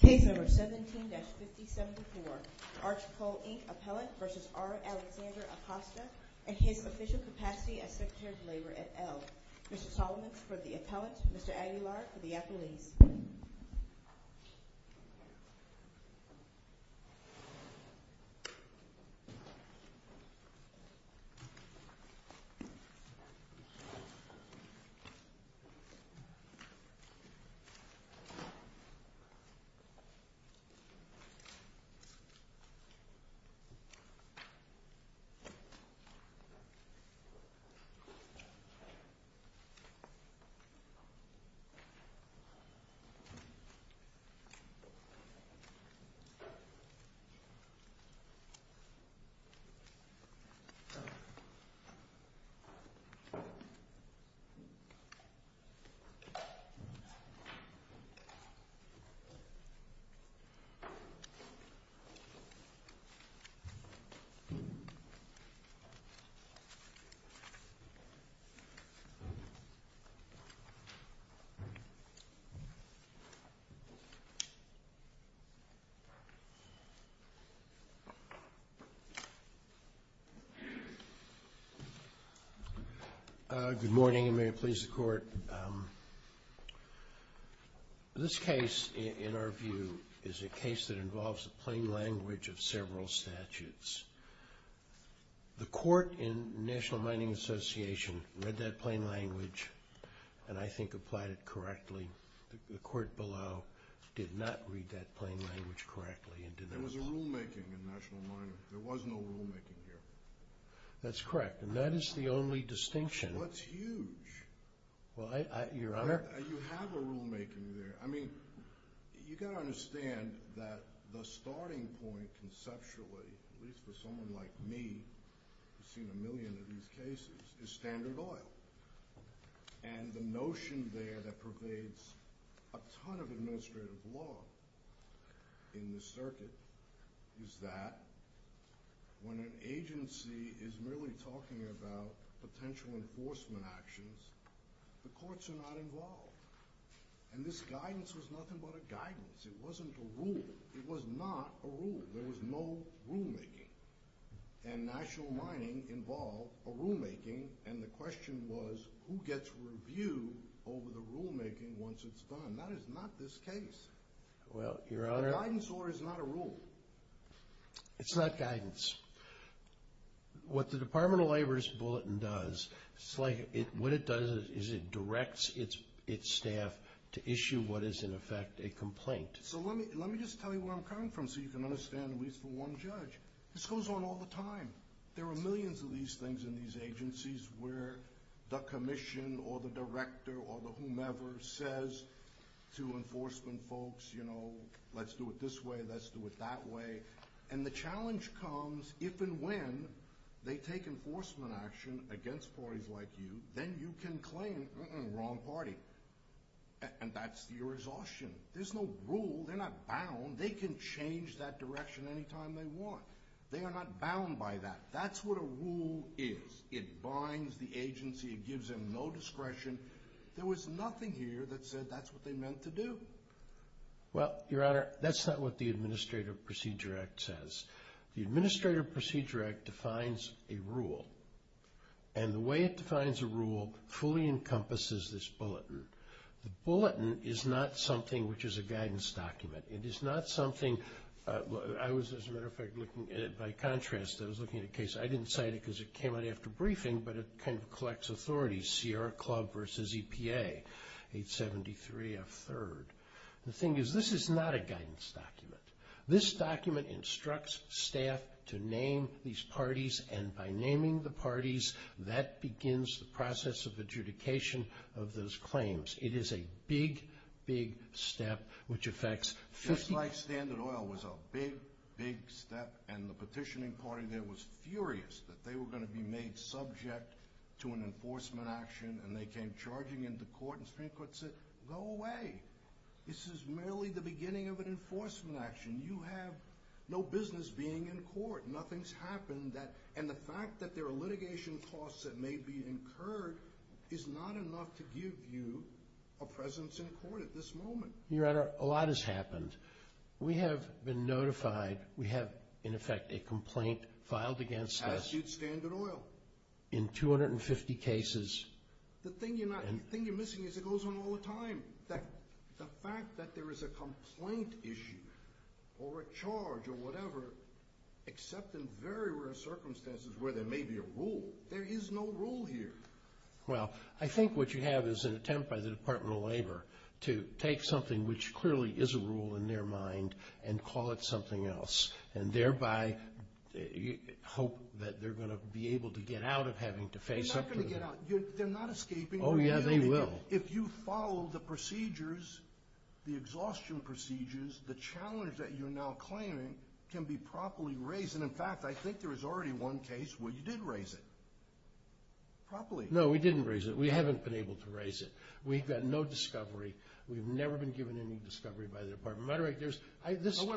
Case number 17-5074, Archpole, Inc. Appellant v. R. Alexander Acosta, at his official capacity as Secretary of Labor at Elle. Mr. Solomons for the Appellant, Mr. Aguilar for the Appellees. Mr. Solomons for the Appellant, Mr. Aguilar for the Appellees. Mr. Solomons for the Appellate, Mr. Aguilar for the Appellees. This case, in our view, is a case that involves the plain language of several statutes. The Court in National Mining Association read that plain language, and I think applied it correctly. The Court below did not read that plain language correctly and did not follow. There was a rulemaking in National Mining. There was no rulemaking here. That's correct, and that is the only distinction. Well, that's huge. Your Honor? You have a rulemaking there. I mean, you've got to understand that the starting point conceptually, at least for someone like me who's seen a million of these cases, is Standard Oil. And the notion there that pervades a ton of administrative law in this circuit is that when an agency is merely talking about potential enforcement actions, the courts are not involved. And this guidance was nothing but a guidance. It wasn't a rule. It was not a rule. There was no rulemaking. And National Mining involved a rulemaking, and the question was, who gets review over the rulemaking once it's done? That is not this case. Well, Your Honor? A guidance order is not a rule. It's not guidance. What the Department of Labor's bulletin does, what it does is it directs its staff to issue what is, in effect, a complaint. So let me just tell you where I'm coming from so you can understand, at least for one judge. This goes on all the time. There are millions of these things in these agencies where the commission or the director or the whomever says to enforcement folks, you know, let's do it this way, let's do it that way. And the challenge comes if and when they take enforcement action against parties like you, then you can claim, uh-uh, wrong party. And that's the exhaustion. There's no rule. They're not bound. They can change that direction any time they want. They are not bound by that. That's what a rule is. It binds the agency. It gives them no discretion. There was nothing here that said that's what they meant to do. Well, Your Honor, that's not what the Administrative Procedure Act says. The Administrative Procedure Act defines a rule, and the way it defines a rule fully encompasses this bulletin. The bulletin is not something which is a guidance document. It is not something I was, as a matter of fact, looking at it by contrast. I was looking at a case. I didn't cite it because it came out after briefing, but it kind of collects authority. Sierra Club versus EPA, 873F3rd. The thing is this is not a guidance document. This document instructs staff to name these parties, and by naming the parties that begins the process of adjudication of those claims. It is a big, big step which affects 50... Just like Standard Oil was a big, big step and the petitioning party there was furious that they were going to be made subject to an enforcement action, and they came charging into court and the Supreme Court said go away. This is merely the beginning of an enforcement action. You have no business being in court. Nothing's happened. And the fact that there are litigation costs that may be incurred is not enough to give you a presence in court at this moment. Your Honor, a lot has happened. We have been notified. We have, in effect, a complaint filed against us. As did Standard Oil. In 250 cases. The thing you're missing is it goes on all the time. The fact that there is a complaint issue or a charge or whatever, except in very rare circumstances where there may be a rule. There is no rule here. Well, I think what you have is an attempt by the Department of Labor to take something which clearly is a rule in their mind and call it something else and thereby hope that they're going to be able to get out of having to face up to it. They're not going to get out. They're not escaping. Oh, yeah, they will. If you follow the procedures, the exhaustion procedures, the challenge that you're now claiming can be properly raised. And, in fact, I think there was already one case where you did raise it properly. No, we didn't raise it. We haven't been able to raise it. We've got no discovery. We've never been given any discovery by the Department of Labor. Wait,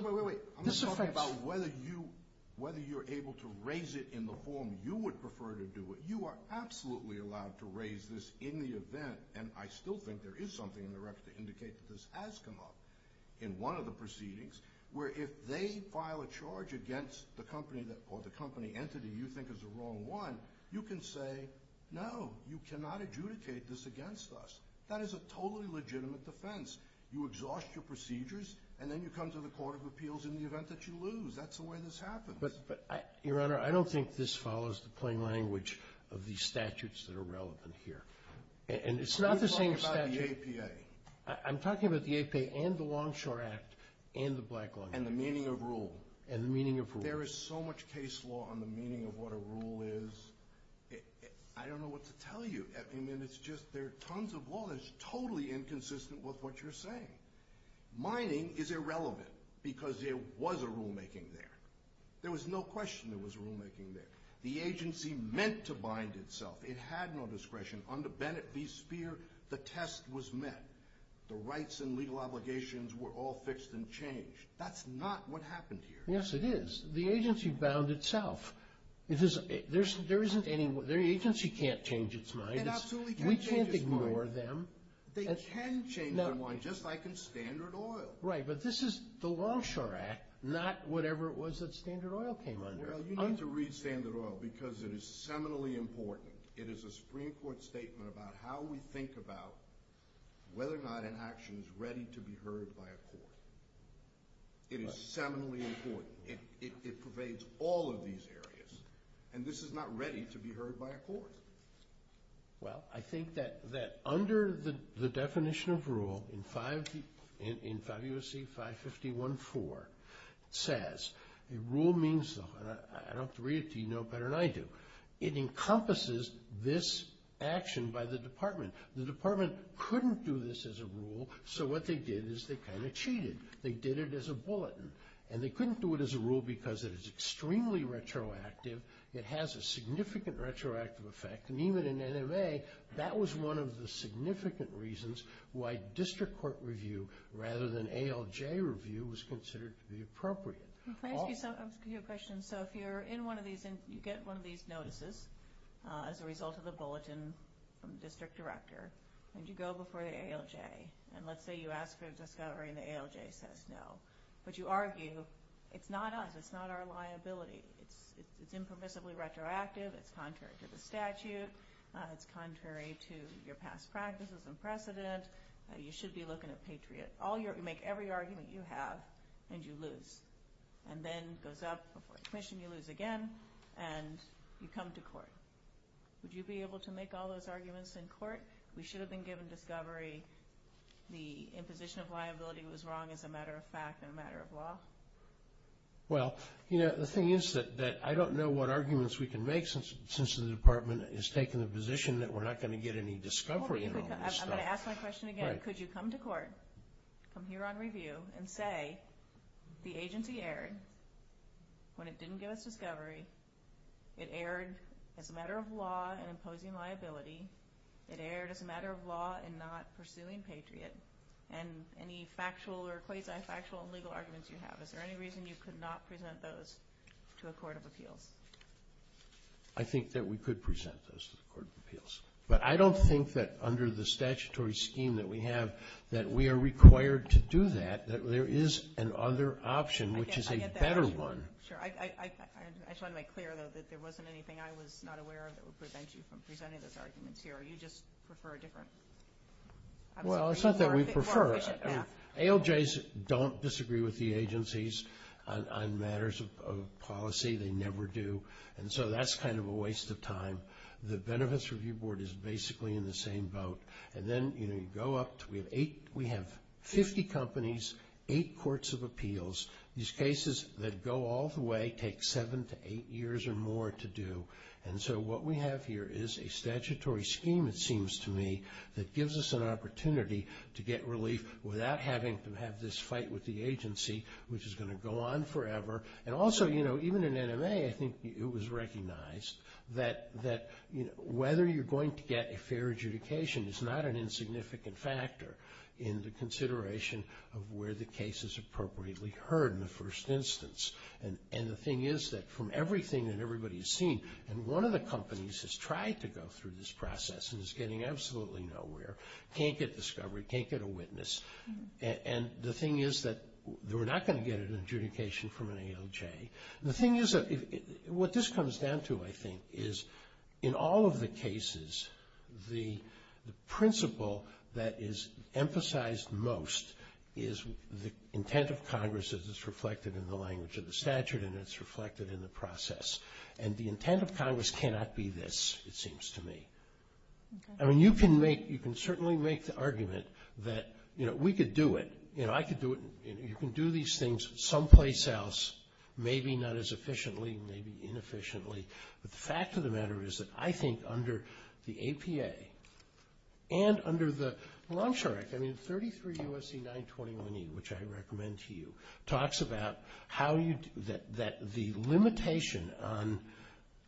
wait, wait. I'm not talking about whether you're able to raise it in the form you would prefer to do it. You are absolutely allowed to raise this in the event, and I still think there is something in the record to indicate that this has come up, in one of the proceedings where if they file a charge against the company or the company entity you think is the wrong one, you can say, no, you cannot adjudicate this against us. That is a totally legitimate defense. You exhaust your procedures, and then you come to the Court of Appeals in the event that you lose. That's the way this happens. But, Your Honor, I don't think this follows the plain language of the statutes that are relevant here. And it's not the same statute. You're talking about the APA. I'm talking about the APA and the Longshore Act and the Black Longshore Act. And the meaning of rule. And the meaning of rule. There is so much case law on the meaning of what a rule is. I don't know what to tell you. I mean, it's just there are tons of law that's totally inconsistent with what you're saying. Mining is irrelevant because there was a rulemaking there. There was no question there was a rulemaking there. The agency meant to bind itself. It had no discretion. Under Bennett v. Speer, the test was met. The rights and legal obligations were all fixed and changed. That's not what happened here. Yes, it is. The agency bound itself. There isn't any – the agency can't change its mind. It absolutely can't change its mind. We can't ignore them. They can change their mind, just like in Standard Oil. Right, but this is the Longshore Act, not whatever it was that Standard Oil came under. Well, you need to read Standard Oil because it is seminally important. It is a Supreme Court statement about how we think about whether or not an action is ready to be heard by a court. It is seminally important. It pervades all of these areas, and this is not ready to be heard by a court. Well, I think that under the definition of rule in 5 U.S.C. 551-4, it says, the rule means – I don't have to read it to you, you know it better than I do – it encompasses this action by the department. The department couldn't do this as a rule, so what they did is they kind of cheated. They did it as a bulletin, and they couldn't do it as a rule because it is extremely retroactive. It has a significant retroactive effect, and even in NMA, that was one of the significant reasons why district court review rather than ALJ review was considered to be appropriate. Can I ask you a question? So if you're in one of these and you get one of these notices as a result of the bulletin from the district director, and you go before the ALJ, and let's say you ask for a discovery and the ALJ says no, but you argue, it's not us. It's not our liability. It's impermissibly retroactive. It's contrary to the statute. It's contrary to your past practices and precedent. You should be looking at Patriot. You make every argument you have, and you lose. And then it goes up before the commission, you lose again, and you come to court. Would you be able to make all those arguments in court? We should have been given discovery. The imposition of liability was wrong as a matter of fact and a matter of law. Well, you know, the thing is that I don't know what arguments we can make since the department has taken the position that we're not going to get any discovery in all this stuff. I'm going to ask my question again. Could you come to court, come here on review, and say the agency erred when it didn't give us discovery. It erred as a matter of law in imposing liability. It erred as a matter of law in not pursuing Patriot. And any factual or quasi-factual legal arguments you have, is there any reason you could not present those to a court of appeals? I think that we could present those to the court of appeals. But I don't think that under the statutory scheme that we have, that we are required to do that, that there is another option, which is a better one. Sure. I just want to make clear, though, that there wasn't anything I was not aware of that would prevent you from presenting those arguments here. Or you just prefer a different? Well, it's not that we prefer. ALJs don't disagree with the agencies on matters of policy. They never do. And so that's kind of a waste of time. The Benefits Review Board is basically in the same boat. And then, you know, you go up to, we have 50 companies, 8 courts of appeals. These cases that go all the way take 7 to 8 years or more to do. And so what we have here is a statutory scheme, it seems to me, that gives us an opportunity to get relief without having to have this fight with the agency, which is going to go on forever. And also, you know, even in NMA, I think it was recognized that, you know, whether you're going to get a fair adjudication is not an insignificant factor in the consideration of where the case is appropriately heard in the first instance. And the thing is that from everything that everybody has seen, and one of the companies has tried to go through this process and is getting absolutely nowhere, can't get discovery, can't get a witness. And the thing is that we're not going to get an adjudication from an ALJ. The thing is that what this comes down to, I think, is in all of the cases, the principle that is emphasized most is the intent of Congress as it's reflected in the language of the statute and it's reflected in the process. And the intent of Congress cannot be this, it seems to me. I mean, you can certainly make the argument that, you know, we could do it. You know, I could do it. You can do these things someplace else, maybe not as efficiently, maybe inefficiently. But the fact of the matter is that I think under the APA and under the Longshore Act, I mean, 33 U.S.C. 921E, which I recommend to you, talks about how you do that the limitation on,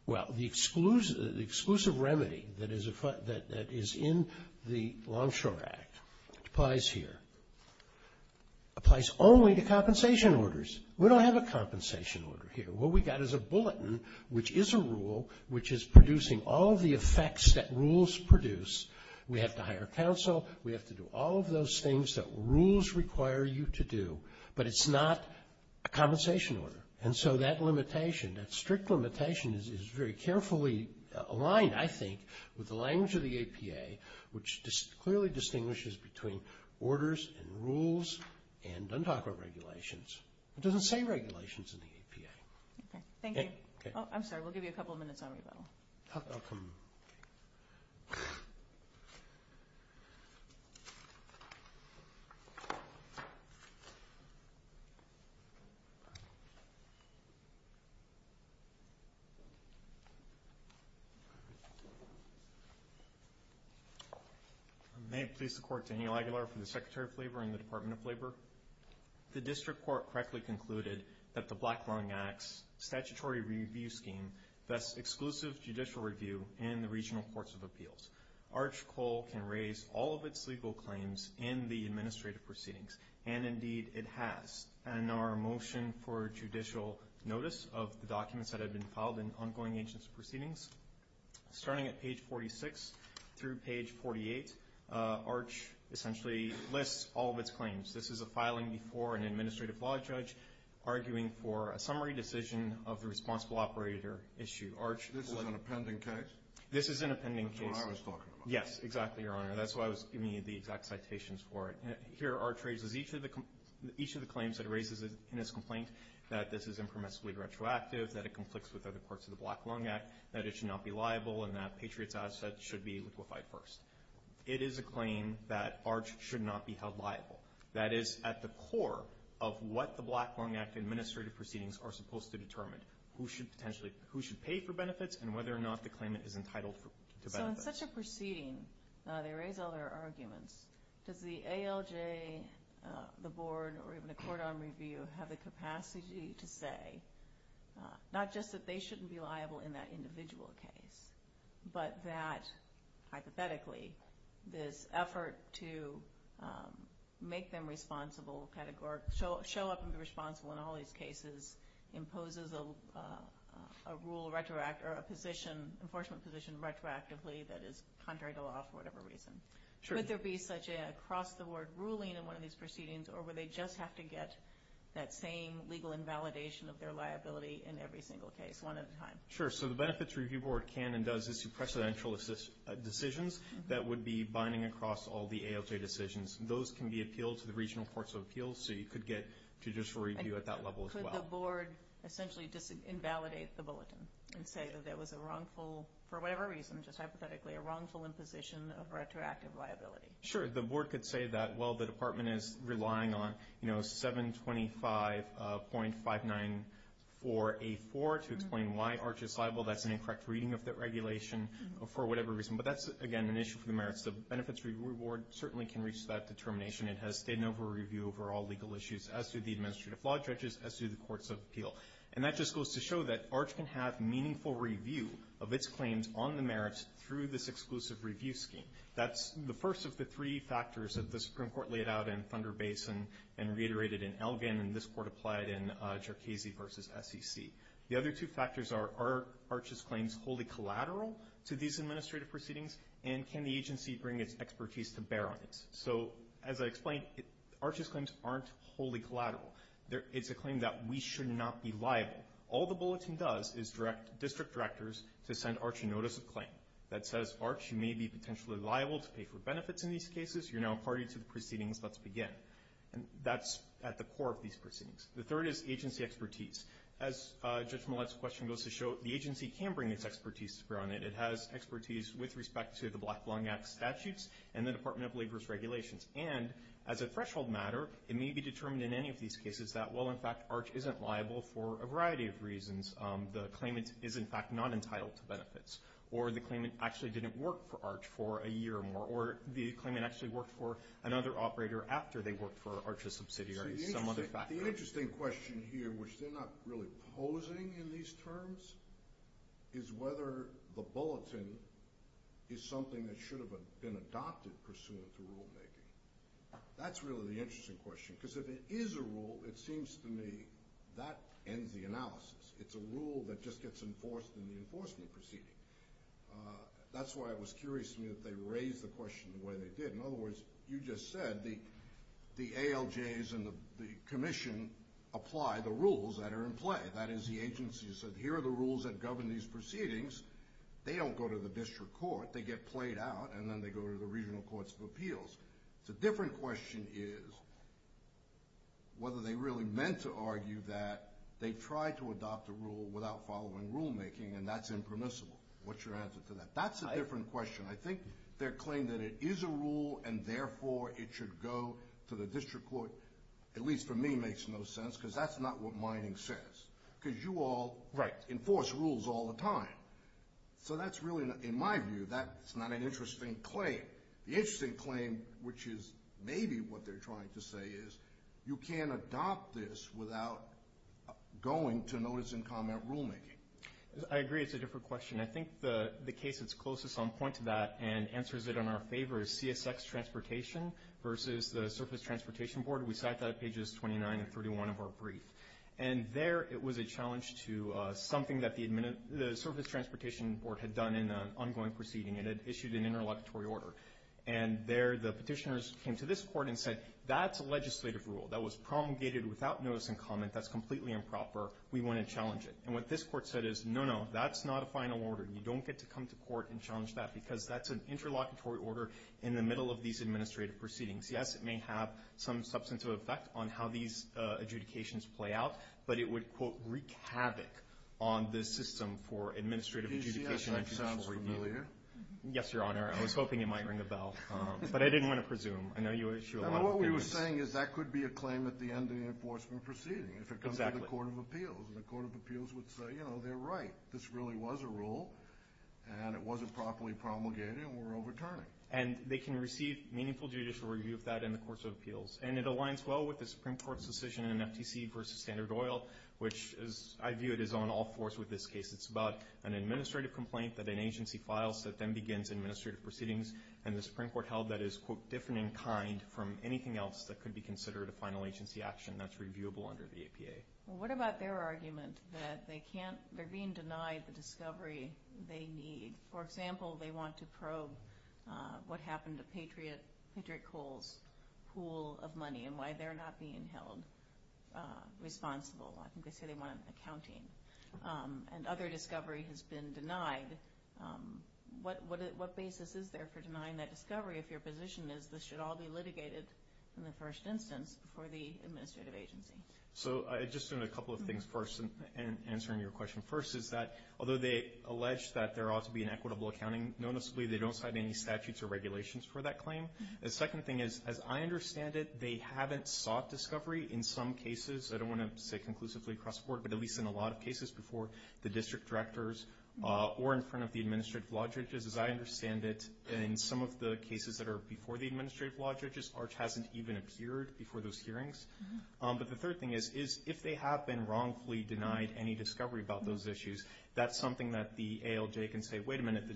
well, the exclusive remedy that is in the Longshore Act applies here, applies only to compensation orders. We don't have a compensation order here. What we got is a bulletin, which is a rule, which is producing all of the effects that rules produce. We have to hire counsel. We have to do all of those things that rules require you to do. But it's not a compensation order. And so that limitation, that strict limitation is very carefully aligned, I think, with the language of the APA, which clearly distinguishes between orders and rules and doesn't talk about regulations. It doesn't say regulations in the APA. Okay. Thank you. Oh, I'm sorry. We'll give you a couple of minutes on rebuttal. I'll come. May it please the Court. Daniel Aguilar from the Secretary of Labor and the Department of Labor. The district court correctly concluded that the Black Long Axe statutory review scheme bests exclusive judicial review in the regional courts of appeals. Arch Cole can raise all of its legal claims in the administrative proceedings, and indeed it has. And our motion for judicial notice of the documents that have been filed in ongoing agency proceedings, starting at page 46 through page 48, Arch essentially lists all of its claims. This is a filing before an administrative law judge arguing for a summary decision of the responsible operator issue. This is an appending case? This is an appending case. That's what I was talking about. Yes, exactly, Your Honor. That's why I was giving you the exact citations for it. Here Arch raises each of the claims that he raises in his complaint, that this is impermissibly retroactive, that it conflicts with other parts of the Black Long Axe, that it should not be liable, and that Patriot's Asset should be liquefied first. It is a claim that Arch should not be held liable. That is at the core of what the Black Long Axe administrative proceedings are supposed to determine, who should pay for benefits and whether or not the claimant is entitled to benefits. So in such a proceeding, they raise all their arguments. Does the ALJ, the board, or even the court on review have the capacity to say not just that they shouldn't be liable in that individual case, but that, hypothetically, this effort to make them responsible, show up and be responsible in all these cases, imposes a rule or a position, an enforcement position retroactively that is contrary to law for whatever reason? Sure. Would there be such an across-the-board ruling in one of these proceedings, or would they just have to get that same legal invalidation of their liability in every single case, one at a time? Sure. So the Benefits Review Board can and does issue precedential decisions that would be binding across all the ALJ decisions. Those can be appealed to the regional courts of appeals, so you could get judicial review at that level as well. Could the board essentially invalidate the bulletin and say that there was a wrongful, for whatever reason, just hypothetically, a wrongful imposition of retroactive liability? Sure. The board could say that, well, the department is relying on, you know, 725.594A4 to explain why ARCH is liable. That's an incorrect reading of the regulation for whatever reason. But that's, again, an issue for the Merits Review Board. It certainly can reach that determination. It has state and overall review over all legal issues as to the administrative law judges, as to the courts of appeal. And that just goes to show that ARCH can have meaningful review of its claims on the merits through this exclusive review scheme. That's the first of the three factors that the Supreme Court laid out in Thunder Basin and reiterated in Elgin, and this court applied in Jercasey v. SEC. The other two factors are, are ARCH's claims wholly collateral to these administrative proceedings, and can the agency bring its expertise to bear on it? So, as I explained, ARCH's claims aren't wholly collateral. It's a claim that we should not be liable. All the bulletin does is direct district directors to send ARCH a notice of claim that says, ARCH, you may be potentially liable to pay for benefits in these cases. You're now party to the proceedings. Let's begin. That's at the core of these proceedings. The third is agency expertise. As Judge Millett's question goes to show, the agency can bring its expertise to bear on it. It has expertise with respect to the Black Belonging Act statutes and the Department of Labor's regulations. And as a threshold matter, it may be determined in any of these cases that, well, in fact, ARCH isn't liable for a variety of reasons. The claimant is, in fact, not entitled to benefits. Or the claimant actually didn't work for ARCH for a year or more. Or the claimant actually worked for another operator after they worked for ARCH's subsidiary, some other factor. The interesting question here, which they're not really posing in these terms, is whether the bulletin is something that should have been adopted pursuant to rulemaking. That's really the interesting question. Because if it is a rule, it seems to me that ends the analysis. It's a rule that just gets enforced in the enforcement proceeding. That's why it was curious to me that they raised the question the way they did. In other words, you just said the ALJs and the Commission apply the rules that are in play. That is, the agency said, here are the rules that govern these proceedings. They don't go to the district court. They get played out, and then they go to the regional courts of appeals. The different question is whether they really meant to argue that they tried to adopt a rule without following rulemaking, and that's impermissible. What's your answer to that? That's a different question. I think their claim that it is a rule, and therefore it should go to the district court, at least for me, makes no sense. Because that's not what mining says. Because you all enforce rules all the time. So that's really, in my view, that's not an interesting claim. The interesting claim, which is maybe what they're trying to say, is you can't adopt this without going to notice and comment rulemaking. I agree it's a different question. I think the case that's closest on point to that and answers it in our favor is CSX Transportation versus the Surface Transportation Board. We cite that at pages 29 and 31 of our brief. And there it was a challenge to something that the Surface Transportation Board had done in an ongoing proceeding. It had issued an interlocutory order. And there the petitioners came to this court and said, that's a legislative rule that was promulgated without notice and comment. That's completely improper. We want to challenge it. And what this court said is, no, no, that's not a final order. You don't get to come to court and challenge that because that's an interlocutory order in the middle of these administrative proceedings. Yes, it may have some substantive effect on how these adjudications play out, but it would, quote, on this system for administrative adjudication and judicial review. Does CSX sound familiar? Yes, Your Honor. I was hoping it might ring a bell, but I didn't want to presume. I know you issue a lot of opinions. And what we were saying is that could be a claim at the end of the enforcement proceeding if it comes to the Court of Appeals. And the Court of Appeals would say, you know, they're right. This really was a rule, and it wasn't properly promulgated, and we're overturning. And they can receive meaningful judicial review of that in the course of appeals. And it aligns well with the Supreme Court's decision in FTC v. Standard Oil, which, as I view it, is on all fours with this case. It's about an administrative complaint that an agency files that then begins administrative proceedings, and the Supreme Court held that is, quote, different in kind from anything else that could be considered a final agency action that's reviewable under the APA. Well, what about their argument that they're being denied the discovery they need? For example, they want to probe what happened to Patriot Coal's pool of money and why they're not being held responsible. I think they say they want accounting. And other discovery has been denied. What basis is there for denying that discovery if your position is this should all be litigated in the first instance for the administrative agency? So just a couple of things first in answering your question. First is that although they allege that there ought to be an equitable accounting noticeably, they don't cite any statutes or regulations for that claim. The second thing is, as I understand it, they haven't sought discovery in some cases. I don't want to say conclusively across the board, but at least in a lot of cases before the district directors or in front of the administrative law judges. As I understand it, in some of the cases that are before the administrative law judges, ARCH hasn't even appeared before those hearings. But the third thing is, if they have been wrongfully denied any discovery about those issues, that's something that the ALJ can say, wait a minute, the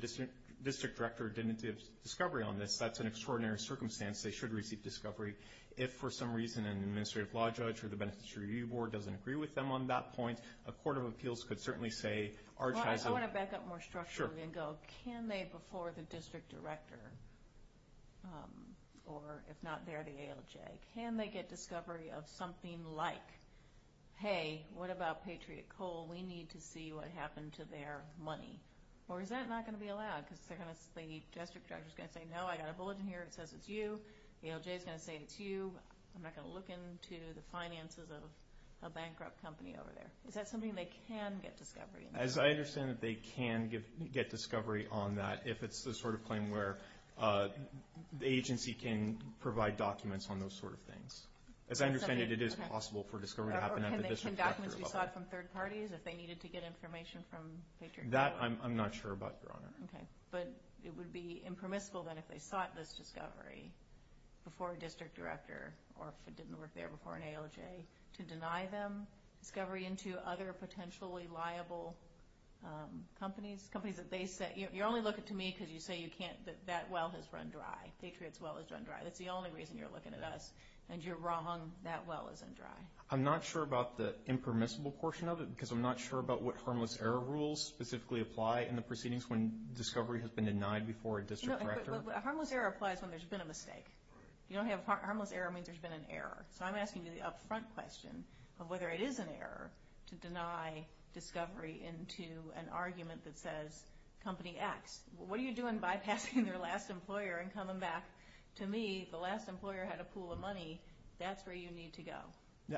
district director didn't give discovery on this. That's an extraordinary circumstance. They should receive discovery. If for some reason an administrative law judge or the beneficiary review board doesn't agree with them on that point, a court of appeals could certainly say ARCH hasn't. I want to back up more structurally and go, can they before the district director, or if not, they're the ALJ, can they get discovery of something like, hey, what about Patriot Coal? We need to see what happened to their money. Or is that not going to be allowed because the district director is going to say, no, I got a bullet in here. It says it's you. The ALJ is going to say it's you. I'm not going to look into the finances of a bankrupt company over there. Is that something they can get discovery on? As I understand it, they can get discovery on that if it's the sort of claim where the agency can provide documents on those sort of things. As I understand it, it is possible for discovery to happen at the district director level. Can documents be sought from third parties if they needed to get information from Patriot Coal? That I'm not sure about, Your Honor. Okay. But it would be impermissible then if they sought this discovery before a district director or if it didn't work there before an ALJ to deny them discovery into other potentially liable companies, companies that they say, you're only looking to me because you say you can't, that well has run dry. Patriot's well has run dry. That's the only reason you're looking at us, and you're wrong. That well isn't dry. I'm not sure about the impermissible portion of it because I'm not sure about what harmless error rules specifically apply in the proceedings when discovery has been denied before a district director. Harmless error applies when there's been a mistake. If you don't have harmless error, it means there's been an error. So I'm asking you the upfront question of whether it is an error to deny discovery into an argument that says company X. What are you doing bypassing your last employer and coming back to me? The last employer had a pool of money. That's where you need to go.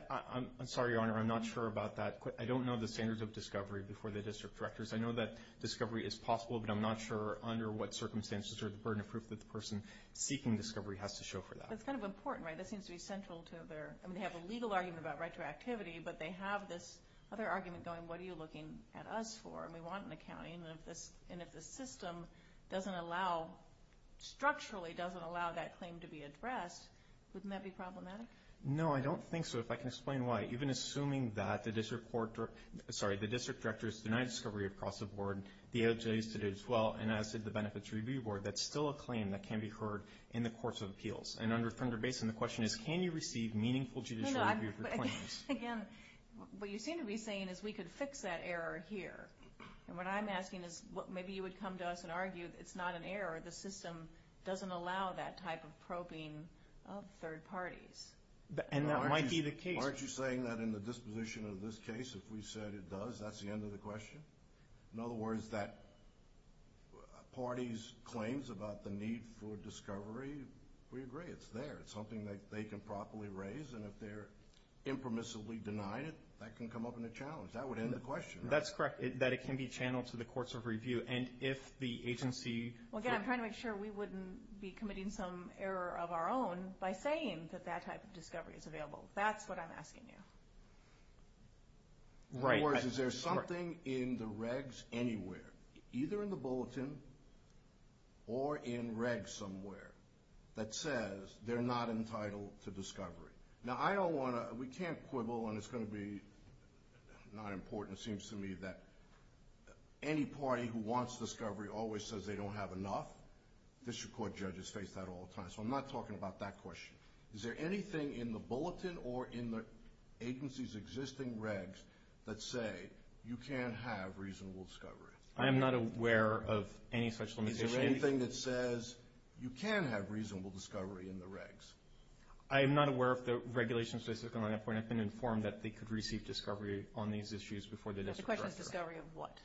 I'm sorry, Your Honor. I'm not sure about that. I don't know the standards of discovery before the district directors. I know that discovery is possible, but I'm not sure under what circumstances or the burden of proof that the person seeking discovery has to show for that. That's kind of important, right? That seems to be central to their – I mean, they have a legal argument about retroactivity, but they have this other argument going, what are you looking at us for? And we want an accounting. And if the system doesn't allow – structurally doesn't allow that claim to be addressed, wouldn't that be problematic? No, I don't think so. If I can explain why. Even assuming that the district court – sorry, the district directors deny discovery across the board, the OJC did as well, and as did the Benefits Review Board, that's still a claim that can be heard in the courts of appeals. And under Thunder Basin, the question is, can you receive meaningful judicial review for claims? Again, what you seem to be saying is we could fix that error here. And what I'm asking is maybe you would come to us and argue it's not an error, the system doesn't allow that type of probing of third parties. And that might be the case. Aren't you saying that in the disposition of this case, if we said it does, that's the end of the question? In other words, that party's claims about the need for discovery, we agree, it's there. It's something that they can properly raise. And if they're impermissibly denying it, that can come up in a challenge. That would end the question, right? That's correct, that it can be channeled to the courts of review. And if the agency – Well, again, I'm trying to make sure we wouldn't be committing some error of our own by saying that that type of discovery is available. That's what I'm asking you. In other words, is there something in the regs anywhere, either in the bulletin or in regs somewhere, that says they're not entitled to discovery? Now, I don't want to – we can't quibble, and it's going to be not important. It seems to me that any party who wants discovery always says they don't have enough. District court judges face that all the time. So I'm not talking about that question. Is there anything in the bulletin or in the agency's existing regs that say you can't have reasonable discovery? I am not aware of any such limitation. Is there anything that says you can have reasonable discovery in the regs? I am not aware of the regulation specific on that point. I've been informed that they could receive discovery on these issues before the district director. The question is discovery of what?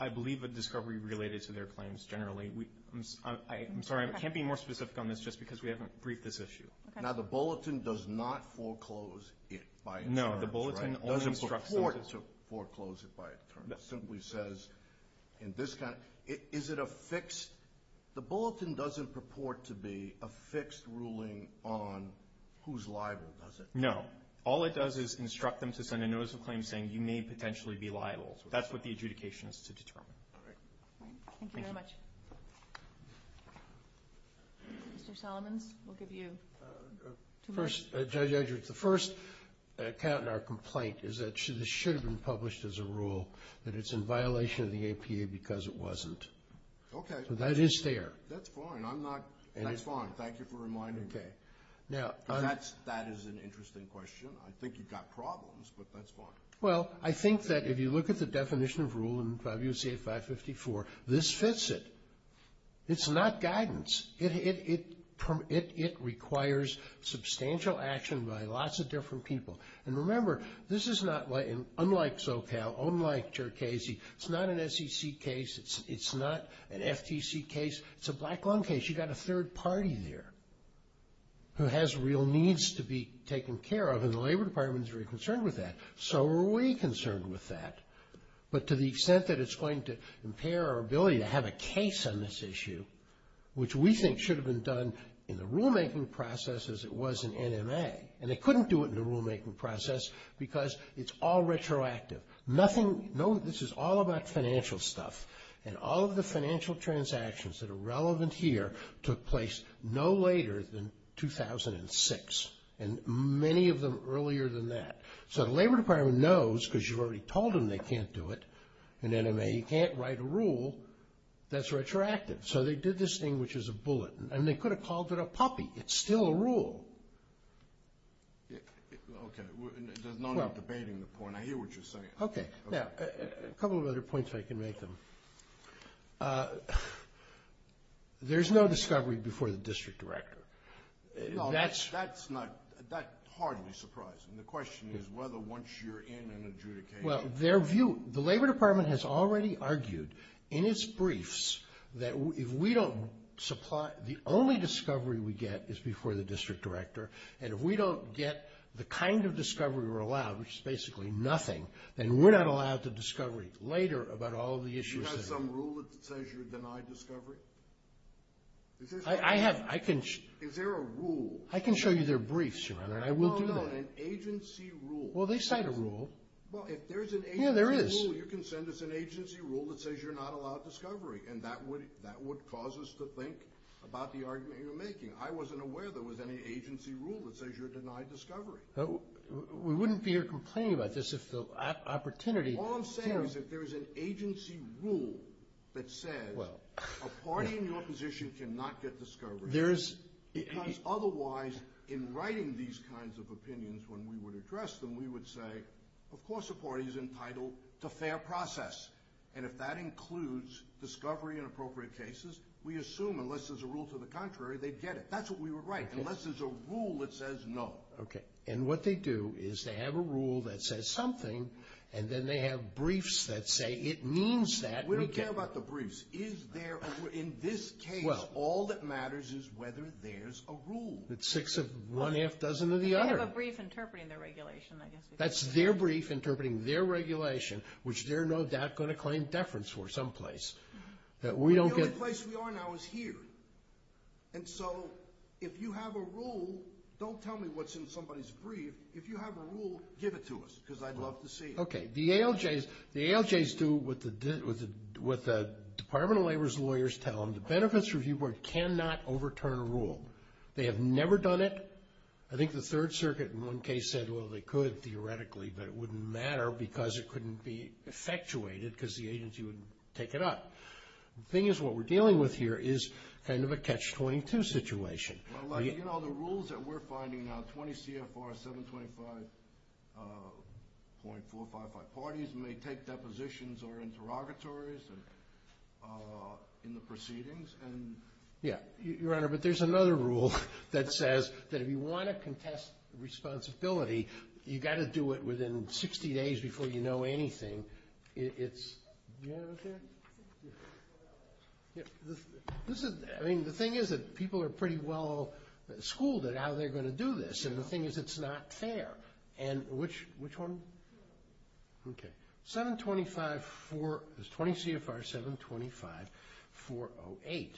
I believe a discovery related to their claims generally. I'm sorry, I can't be more specific on this just because we haven't briefed this issue. Now, the bulletin does not foreclose it by insurance, right? No, the bulletin only instructs them to. It doesn't purport to foreclose it by insurance. It simply says in this kind of – is it a fixed – the bulletin doesn't purport to be a fixed ruling on who's liable, does it? No. All it does is instruct them to send a notice of claim saying you may potentially be liable. That's what the adjudication is to determine. All right. Mr. Solomons, we'll give you two minutes. Judge Edwards, the first count in our complaint is that this should have been published as a rule, that it's in violation of the APA because it wasn't. Okay. That is there. That's fine. I'm not – that's fine. Thank you for reminding me. Okay. That is an interesting question. I think you've got problems, but that's fine. Well, I think that if you look at the definition of rule in WCA 554, this fits it. It's not guidance. It requires substantial action by lots of different people. And remember, this is not – unlike Zocal, unlike Cherkasy, it's not an SEC case. It's not an FTC case. It's a black lung case. You've got a third party there who has real needs to be taken care of, and the Labor Department is very concerned with that. So are we concerned with that. But to the extent that it's going to impair our ability to have a case on this issue, which we think should have been done in the rulemaking process as it was in NMA, and they couldn't do it in the rulemaking process because it's all retroactive. Nothing – this is all about financial stuff, and all of the financial transactions that are relevant here took place no later than 2006, and many of them earlier than that. So the Labor Department knows because you've already told them they can't do it in NMA. You can't write a rule that's retroactive. So they did this thing, which is a bullet, and they could have called it a puppy. It's still a rule. Okay. There's no need for debating the point. I hear what you're saying. Okay. Now, a couple of other points if I can make them. There's no discovery before the district director. That's not – that's hardly surprising. The question is whether once you're in an adjudication. Well, their view – the Labor Department has already argued in its briefs that if we don't supply – the only discovery we get is before the district director, and if we don't get the kind of discovery we're allowed, which is basically nothing, then we're not allowed to discover later about all of the issues. Do you have some rule that says you're denied discovery? I have – I can show you their briefs, Your Honor, and I will do that. Well, they cite a rule. Yeah, there is. Well, if there's an agency rule, you can send us an agency rule that says you're not allowed discovery, and that would cause us to think about the argument you're making. I wasn't aware there was any agency rule that says you're denied discovery. We wouldn't be here complaining about this if the opportunity – All I'm saying is if there's an agency rule that says a party in your position cannot get discovery, because otherwise, in writing these kinds of opinions, when we would address them, we would say, of course a party is entitled to fair process. And if that includes discovery in appropriate cases, we assume unless there's a rule to the contrary, they'd get it. That's what we would write. Unless there's a rule that says no. Okay. And what they do is they have a rule that says something, and then they have briefs that say it means that. We don't care about the briefs. In this case, all that matters is whether there's a rule. It's six of one half dozen of the other. They have a brief interpreting their regulation, I guess. That's their brief interpreting their regulation, which they're no doubt going to claim deference for someplace. The only place we are now is here. And so if you have a rule, don't tell me what's in somebody's brief. If you have a rule, give it to us, because I'd love to see it. Okay. The ALJs do what the Department of Labor's lawyers tell them. The Benefits Review Board cannot overturn a rule. They have never done it. I think the Third Circuit in one case said, well, they could theoretically, but it wouldn't matter because it couldn't be effectuated because the agency would take it up. The thing is what we're dealing with here is kind of a catch-22 situation. Well, you know, the rules that we're finding now, 20 CFR 725.455, parties may take depositions or interrogatories in the proceedings. Yeah, Your Honor, but there's another rule that says that if you want to contest responsibility, you've got to do it within 60 days before you know anything. Do you have it up there? Yeah. I mean, the thing is that people are pretty well schooled at how they're going to do this, and the thing is it's not fair. And which one? Okay. 725 for 20 CFR 725.408.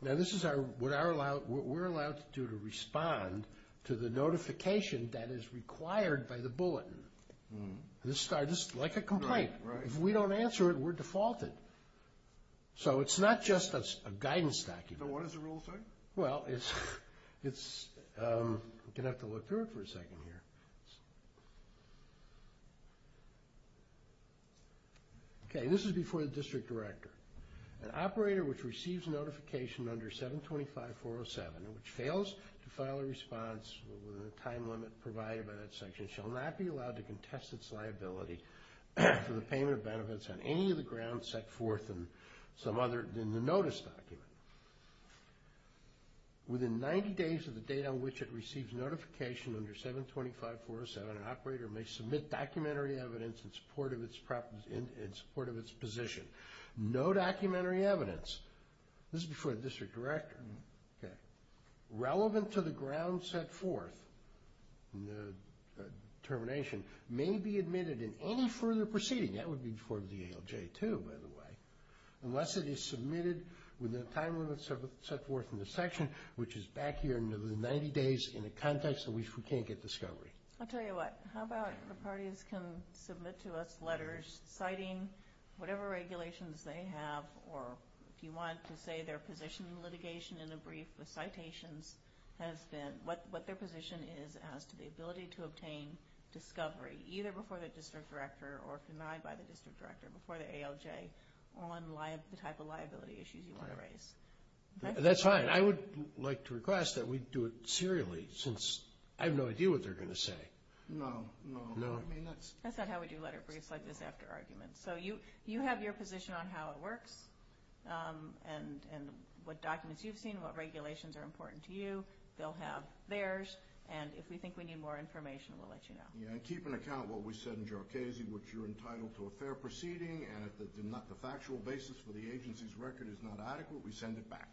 Now, this is what we're allowed to do to respond to the notification that is required by the bulletin. This is like a complaint. If we don't answer it, we're defaulted. So it's not just a guidance document. So what does the rule say? Well, you're going to have to look through it for a second here. Okay, this is before the district director. An operator which receives notification under 725.407 and which fails to file a response within the time limit provided by that section shall not be allowed to contest its liability for the payment of benefits on any of the grounds set forth in the notice document. Within 90 days of the date on which it receives notification under 725.407, an operator may submit documentary evidence in support of its position. No documentary evidence. This is before the district director. Relevant to the grounds set forth in the determination may be admitted in any further proceeding. That would be before the ALJ, too, by the way. Unless it is submitted within the time limit set forth in the section, which is back here in the 90 days in a context in which we can't get discovery. I'll tell you what. How about the parties can submit to us letters citing whatever regulations they have or if you want to say their position in litigation in a brief with citations, what their position is as to the ability to obtain discovery, either before the district director or denied by the district director before the ALJ, on the type of liability issues you want to raise. That's fine. I would like to request that we do it serially since I have no idea what they're going to say. No, no. That's not how we do letter briefs like this after arguments. So you have your position on how it works and what documents you've seen, what regulations are important to you. They'll have theirs. And if we think we need more information, we'll let you know. Yeah, and keep in account what we said in Jharkhese, which you're entitled to a fair proceeding, and if the factual basis for the agency's record is not adequate, we send it back.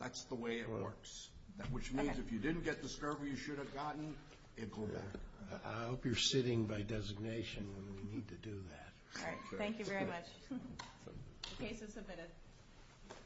That's the way it works, which means if you didn't get discovery you should have gotten, it will go back. I hope you're sitting by designation when we need to do that. All right. Thank you very much. The case is submitted.